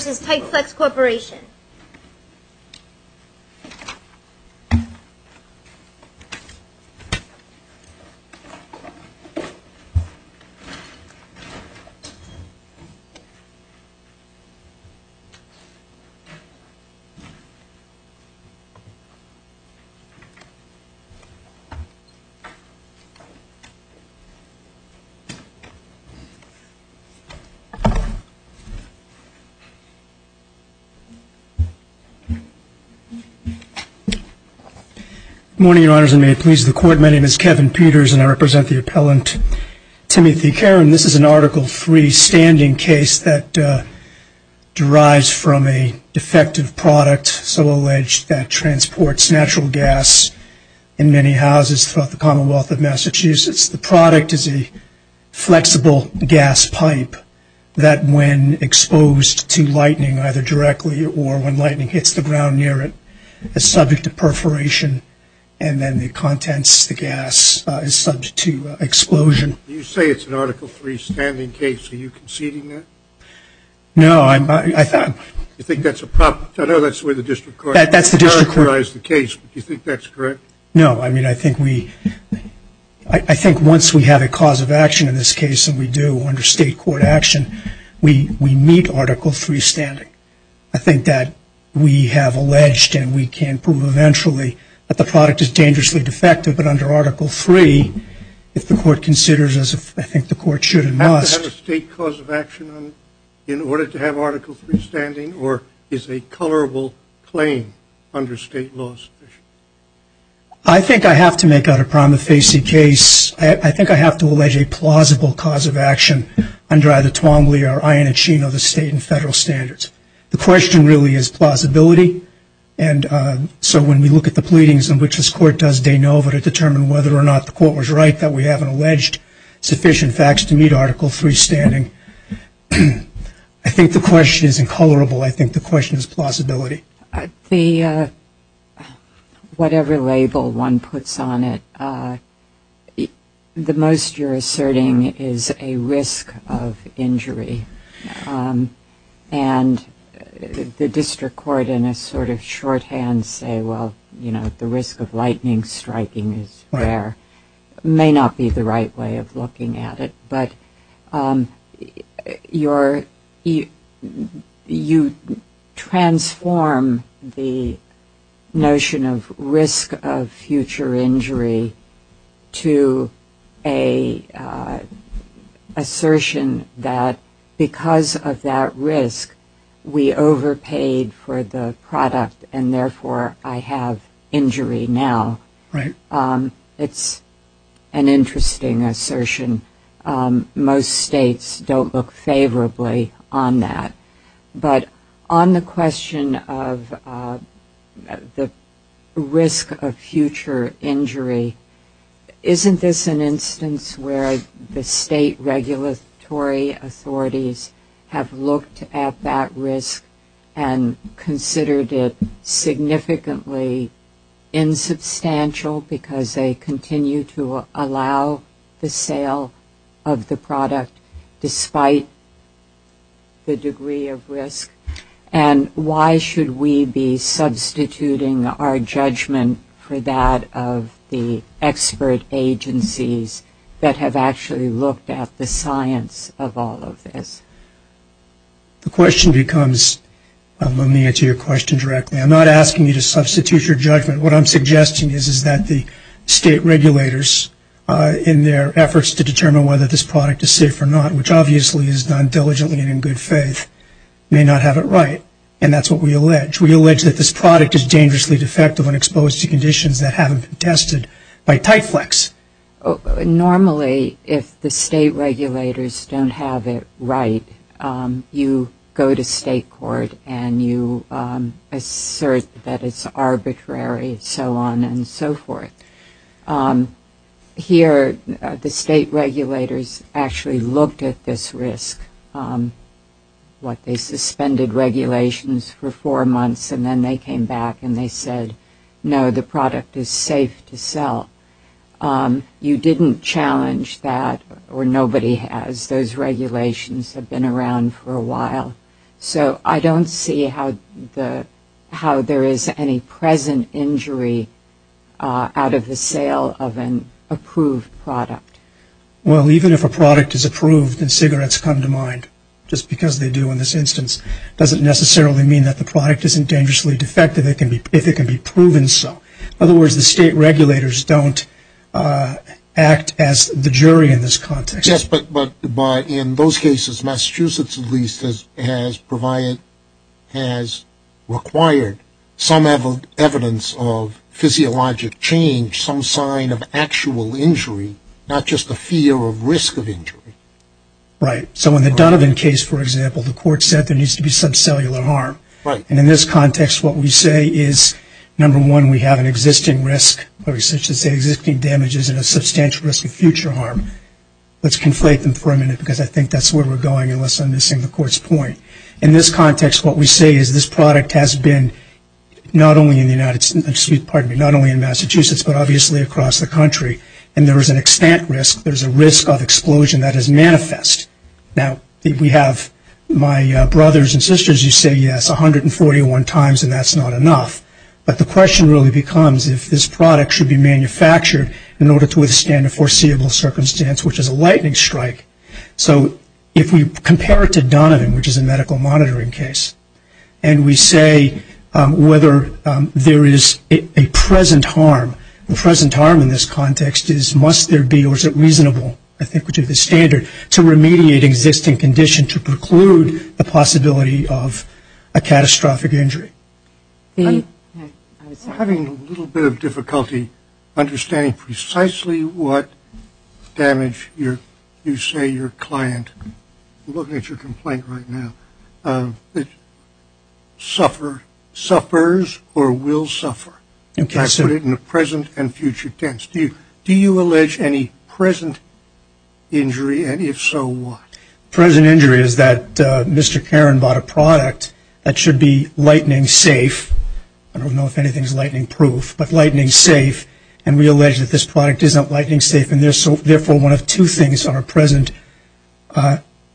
v. Titeflex Corporation Morning, Your Honors, and may it please the Court, my name is Kevin Peters and I represent the appellant Timothy Karin. This is an Article III standing case that derives from a defective product, so alleged, that transports natural gas in many houses throughout the Commonwealth of Massachusetts. The product is a flexible gas pipe that when exposed to lightning either directly or when lightning hits the ground near it, is subject to perforation and then the contents, the gas, is subject to explosion. Do you say it's an Article III standing case? Are you conceding that? No, I'm not. Do you think that's a problem? I know that's the way the District Court characterized the case, but do you think that's correct? No, I mean, I think we, I think once we have a cause of action in this case and we do under state court action, we meet Article III standing. I think that we have alleged and we can prove eventually that the product is dangerously defective, but under Article III, if the Court considers as if I think the Court should and must. Does it have to have a state cause of action in order to have Article III standing or is it a colorable claim under state law? I think I have to make out a prima facie case. I think I have to allege a plausible cause of action under either Twombly or Iannaccino, the state and federal standards. The question really is plausibility and so when we look at the pleadings in which this Court does de novo to determine whether or not the Court was right that we haven't alleged sufficient facts to meet Article III standing, I think the question isn't colorable. I think the question is plausibility. Whatever label one puts on it, the most you're asserting is a risk of injury and the district court in a sort of shorthand say, well, you know, the risk of lightning striking is rare. May not be the right way of looking at it, but you transform the notion of risk of future injury to an assertion that because of that risk, we overpaid for the product and therefore I have injury now. It's an interesting assertion. Most states don't look favorably on that. But on the question of the risk of future injury, isn't this an instance where the state is significantly insubstantial because they continue to allow the sale of the product despite the degree of risk? And why should we be substituting our judgment for that of the expert agencies that have actually looked at the science of all of this? The question becomes, let me answer your question directly. I'm not asking you to substitute your judgment. What I'm suggesting is that the state regulators in their efforts to determine whether this product is safe or not, which obviously is done diligently and in good faith, may not have it right. And that's what we allege. We allege that this product is dangerously defective and exposed to conditions that haven't been tested by Typeflex. Normally, if the state regulators don't have it right, you go to state court and you assert that it's arbitrary and so on and so forth. Here, the state regulators actually looked at this risk, what they suspended regulations for four months and then they came back and they said, no, the product is safe to sell. You didn't challenge that or nobody has. Those regulations have been around for a while. So I don't see how there is any present injury out of the sale of an approved product. Well even if a product is approved and cigarettes come to mind, just because they do in this instance, doesn't necessarily mean that the product isn't dangerously defective. It can be proven so. In other words, the state regulators don't act as the jury in this context. Yes, but in those cases, Massachusetts at least has required some evidence of physiologic change, some sign of actual injury, not just the fear of risk of injury. Right. So in the Donovan case, for example, the court said there needs to be some cellular harm. And in this context, what we say is, number one, we have an existing risk, or we should say existing damages and a substantial risk of future harm. Let's conflate them for a minute because I think that's where we're going unless I'm missing the court's point. In this context, what we say is this product has been not only in Massachusetts, but obviously across the country. And there is an extent risk, there's a risk of explosion that has occurred, yes, 141 times, and that's not enough. But the question really becomes if this product should be manufactured in order to withstand a foreseeable circumstance, which is a lightning strike. So if we compare it to Donovan, which is a medical monitoring case, and we say whether there is a present harm, the present harm in this context is must there be, or is it reasonable, I think to the standard, to remediate existing condition to preclude the possibility of a catastrophic injury? I'm having a little bit of difficulty understanding precisely what damage you say your client, I'm looking at your complaint right now, suffers or will suffer. I put it in the present and future tense. Do you allege any present injury, and if so, what? Present injury is that Mr. Karan bought a product that should be lightning safe, I don't know if anything is lightning proof, but lightning safe, and we allege that this product is not lightning safe, and therefore one of two things are present.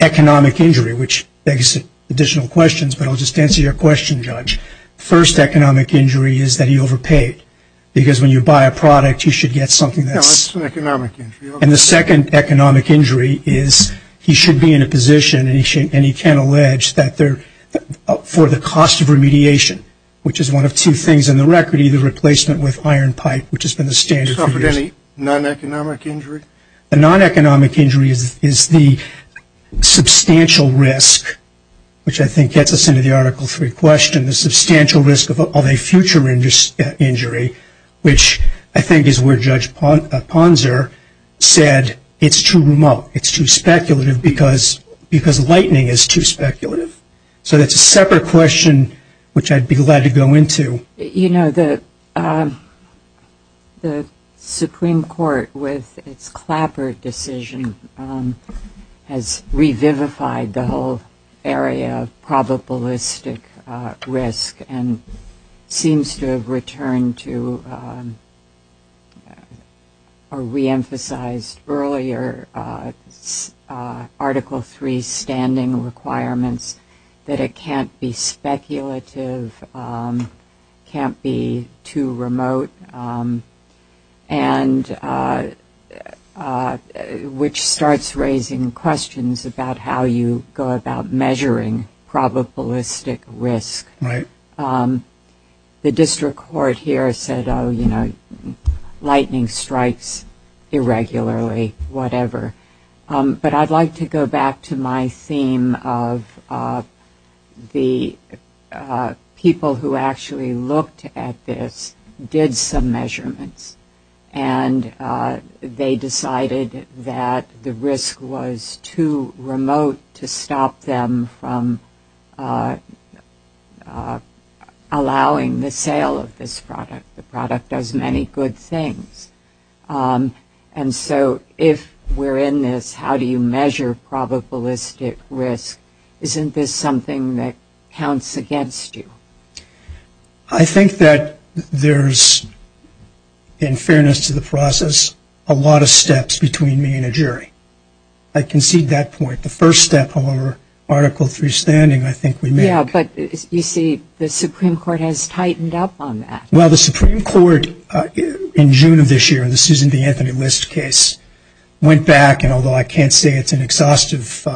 Economic injury, which begs additional questions, but I'll just answer your question, Judge. First economic injury is that he overpaid, because when you buy a product, you should get something that's... No, it's an economic injury. And the second economic injury is he should be in a position, and he can allege, for the cost of remediation, which is one of two things in the record, either replacement with iron pipe, which has been the standard for years. You're talking about a non-economic injury? A non-economic injury is the substantial risk, which I think gets us into the Article 3 question, the substantial risk of a future injury, which I think is where Judge Ponser said it's too remote, it's too speculative, because lightning is too speculative. So that's a separate question, which I'd be glad to go into. You know, the Supreme Court, with its Clapper decision, has revivified the whole area of probabilistic risk, and seems to have returned to, or reemphasized earlier, Article 3 standing requirements, that it can't be speculative, can't be too remote, which starts raising questions about how you go about measuring probabilistic risk. The district court here said, oh, you know, lightning strikes irregularly, whatever. But I'd like to go back to my theme of the people who actually looked at this, did some measurements, and they decided that the risk was too remote to stop them from allowing the sale of this product. The product does many good things. And so if we're in this, how do you measure probabilistic risk? Isn't this something that counts against you? I think that there's, in fairness to the process, a lot of steps between me and a jury. I concede that point. The first step, however, Article 3 standing, I think we may have. Yeah, but you see, the Supreme Court has tightened up on that. Well, the Supreme Court, in June of this year, in the Susan B. Anthony List case, went back, and although I can't say it's an exhaustive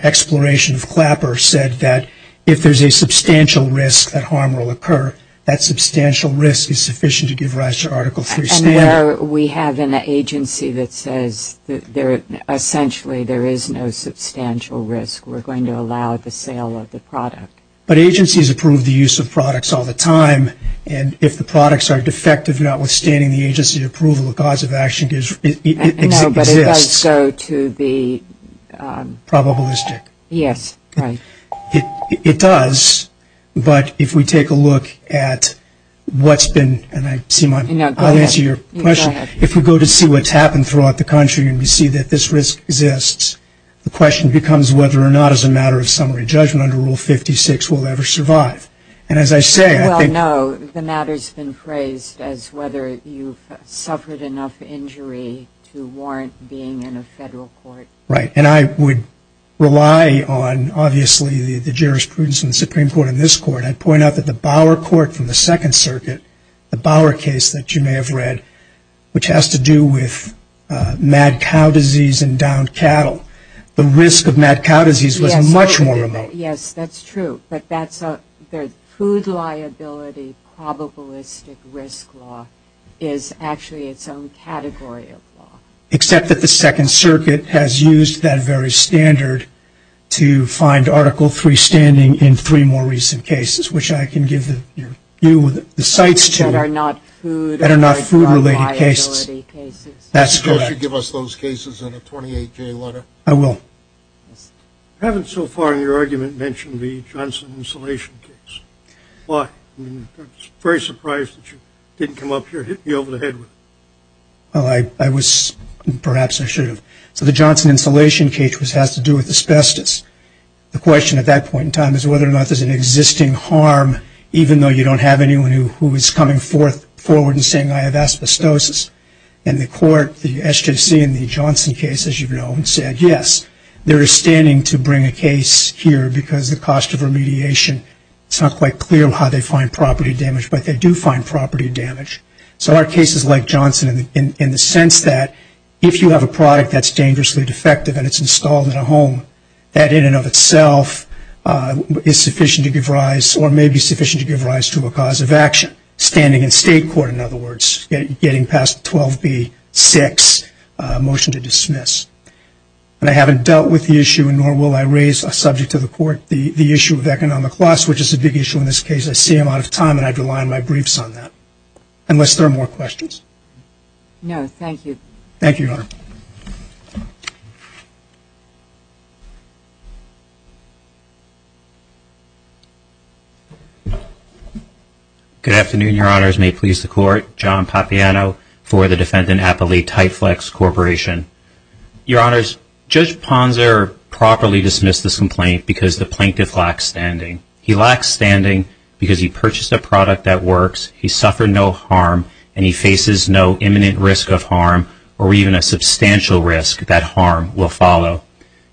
exploration of Clapper, said that if there's a substantial risk that harm will occur, that substantial risk is sufficient to give rise to Article 3 standing. We have an agency that says that essentially there is no substantial risk. We're going to allow the sale of the product. But agencies approve the use of products all the time, and if the products are defective, notwithstanding the agency approval, the cause of action exists. No, but it does go to the... Probabilistic. Yes, right. It does, but if we take a look at what's been, and I see my... No, go ahead. I'll answer your question. No, go ahead. If we go to see what's happened throughout the country, and we see that this risk exists, the question becomes whether or not, as a matter of summary judgment under Rule 56, we'll ever survive. And as I say, I think... Well, no, the matter's been phrased as whether you've suffered enough injury to warrant being in a federal court. Right, and I would rely on, obviously, the jurisprudence of the Supreme Court and this Court. I'd point out that the Bauer Court from the Second Circuit, the Bauer case that you may have read, which has to do with mad cow disease and downed cattle, the risk of mad cow disease was much more remote. Yes, that's true, but that's a... their food liability probabilistic risk law is actually its own category of law. Except that the Second Circuit has used that very standard to find Article III standing in three more recent cases, which I can give you the cites to. That are not food or gun liability cases. That's correct. Could you give us those cases in a 28-J letter? I will. I haven't so far in your argument mentioned the Johnson insulation case. Why? I mean, I'm very surprised that you didn't come up here and hit me over the head with it. Well, I was... perhaps I should have. So the Johnson insulation case has to do with asbestos. The question at that point in time is whether or not there's an existing harm, even though you don't have anyone who is coming forward and saying, I have asbestosis. And the court, the SJC in the Johnson case, as you know, said, yes, they're standing to bring a case here because the cost of remediation, it's not quite clear how they find property damage, but they do find property damage. So are cases like Johnson in the sense that if you have a product that's dangerously defective and it's installed in a home, that in and of itself is sufficient to give rise or may be sufficient to give rise to a cause of action. Standing in state court, in other words, getting past 12B-6, motion to dismiss. And I haven't dealt with the issue, nor will I raise a subject to the court, the issue of economic loss, which is a big issue in this case. I see I'm out of time and I'd rely on my briefs on that. Unless there are more questions. No, thank you. Thank you, Your Honor. Good afternoon, Your Honors. May it please the court. John Papiano for the defendant Applee Titeflex Corporation. Your Honors, Judge Ponser properly dismissed this complaint because the plaintiff lacks standing. He lacks standing because he purchased a product that works. He suffered no harm and he faces no imminent risk of harm or even a substantial risk that harm will follow.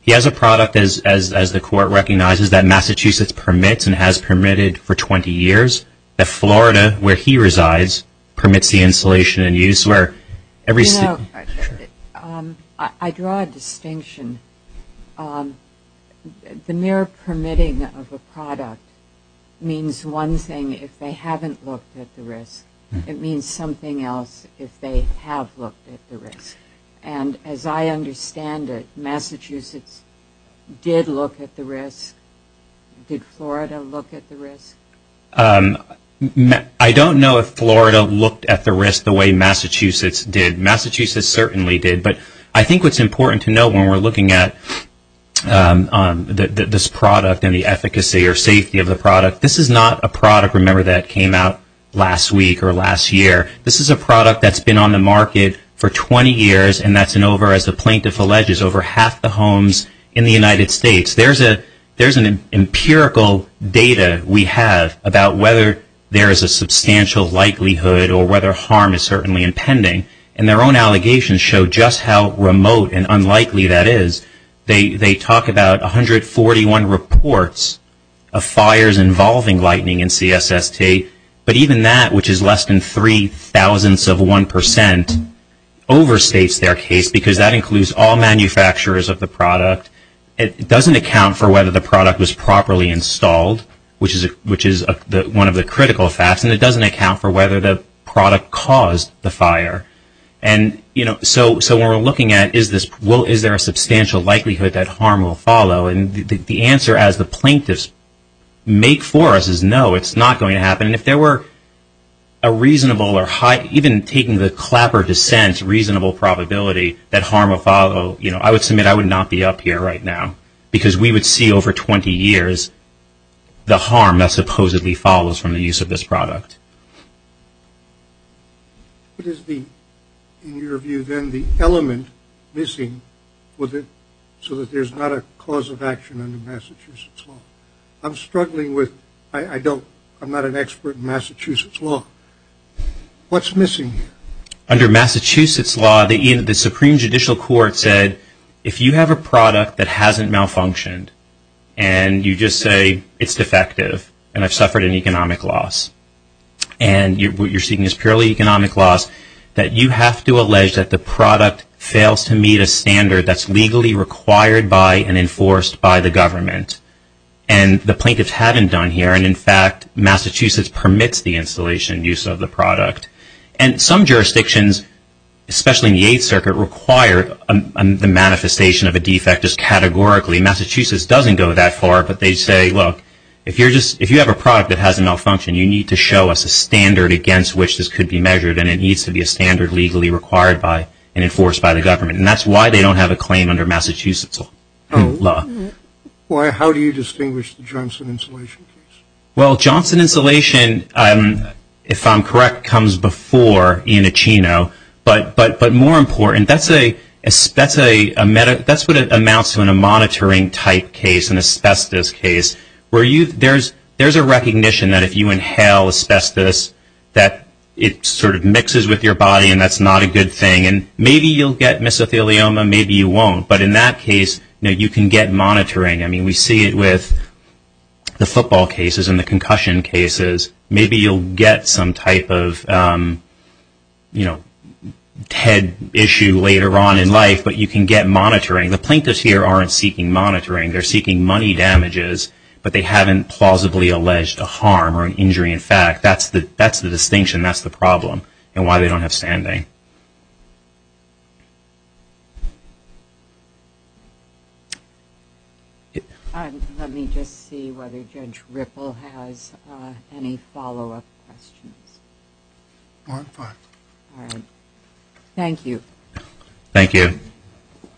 He has a product, as the court recognizes, that Massachusetts permits and has permitted for 20 years. That Florida, where he resides, permits the installation and use where every state... You know, I draw a distinction. The mere permitting of a product means one thing if they haven't looked at the risk. It means something else if they have looked at the risk. And as I understand it, Massachusetts did look at the risk. Did Florida look at the risk? I don't know if Florida looked at the risk the way Massachusetts did. Massachusetts certainly did. But I think what's important to note when we're looking at this product and the efficacy or safety of the product, this is not a product, remember, that came out last week or last year. This is a product that's been on the market for 20 years and that's an over, as the plaintiff alleges, over half the homes in the United States. There's an empirical data we have about whether there is a substantial likelihood or whether harm is certainly impending. And their own allegations show just how remote and unlikely that is. They talk about 141 reports of fires involving lightning in CSST. But even that, which is less than three thousandths of one percent, overstates their case because that includes all manufacturers of the product. It doesn't account for whether the product was properly installed, which is one of the critical facts. And it doesn't account for whether the product caused the fire. And, you know, so when we're looking at is there a substantial likelihood that harm will follow? And the answer, as the plaintiffs make for us, is no, it's not going to happen. And if there were a reasonable or high, even taking the clapper dissent, reasonable probability that harm will follow, you know, I would submit I would not be up here right now because we would see over 20 years the harm that supposedly follows from the use of this product. What is the, in your view then, the element missing so that there's not a cause of action under Massachusetts law? I'm struggling with, I don't, I'm not an expert in Massachusetts law. What's missing? Under Massachusetts law, the Supreme Judicial Court said, if you have a product that hasn't malfunctioned and you just say it's defective and I've suffered an economic loss, and what you're seeing is purely economic loss, that you have to allege that the product fails to meet a standard that's legally required by and enforced by the government. And the plaintiffs haven't done here. And, in fact, Massachusetts permits the installation use of the product. And some jurisdictions, especially in the Eighth Circuit, require the manifestation of a defect just categorically. Massachusetts doesn't go that far, but they say, look, if you're just, if you have a malfunction, you need to show us a standard against which this could be measured. And it needs to be a standard legally required by and enforced by the government. And that's why they don't have a claim under Massachusetts law. Why, how do you distinguish the Johnson insulation case? Well, Johnson insulation, if I'm correct, comes before Ioncino. But more important, that's a, that's a, that's what it amounts to in a monitoring type case, an asbestos case, where you, there's, there's a recognition that if you inhale asbestos, that it sort of mixes with your body and that's not a good thing. And maybe you'll get mesothelioma, maybe you won't. But in that case, you know, you can get monitoring. I mean, we see it with the football cases and the concussion cases. Maybe you'll get some type of, you know, head issue later on in life, but you can get monitoring. The plaintiffs here aren't seeking monitoring. They're seeking money damages, but they haven't plausibly alleged a harm or an injury in fact. That's the, that's the distinction. That's the problem and why they don't have standing. Let me just see whether Judge Ripple has any follow-up questions. Thank you. Thank you. Thank you.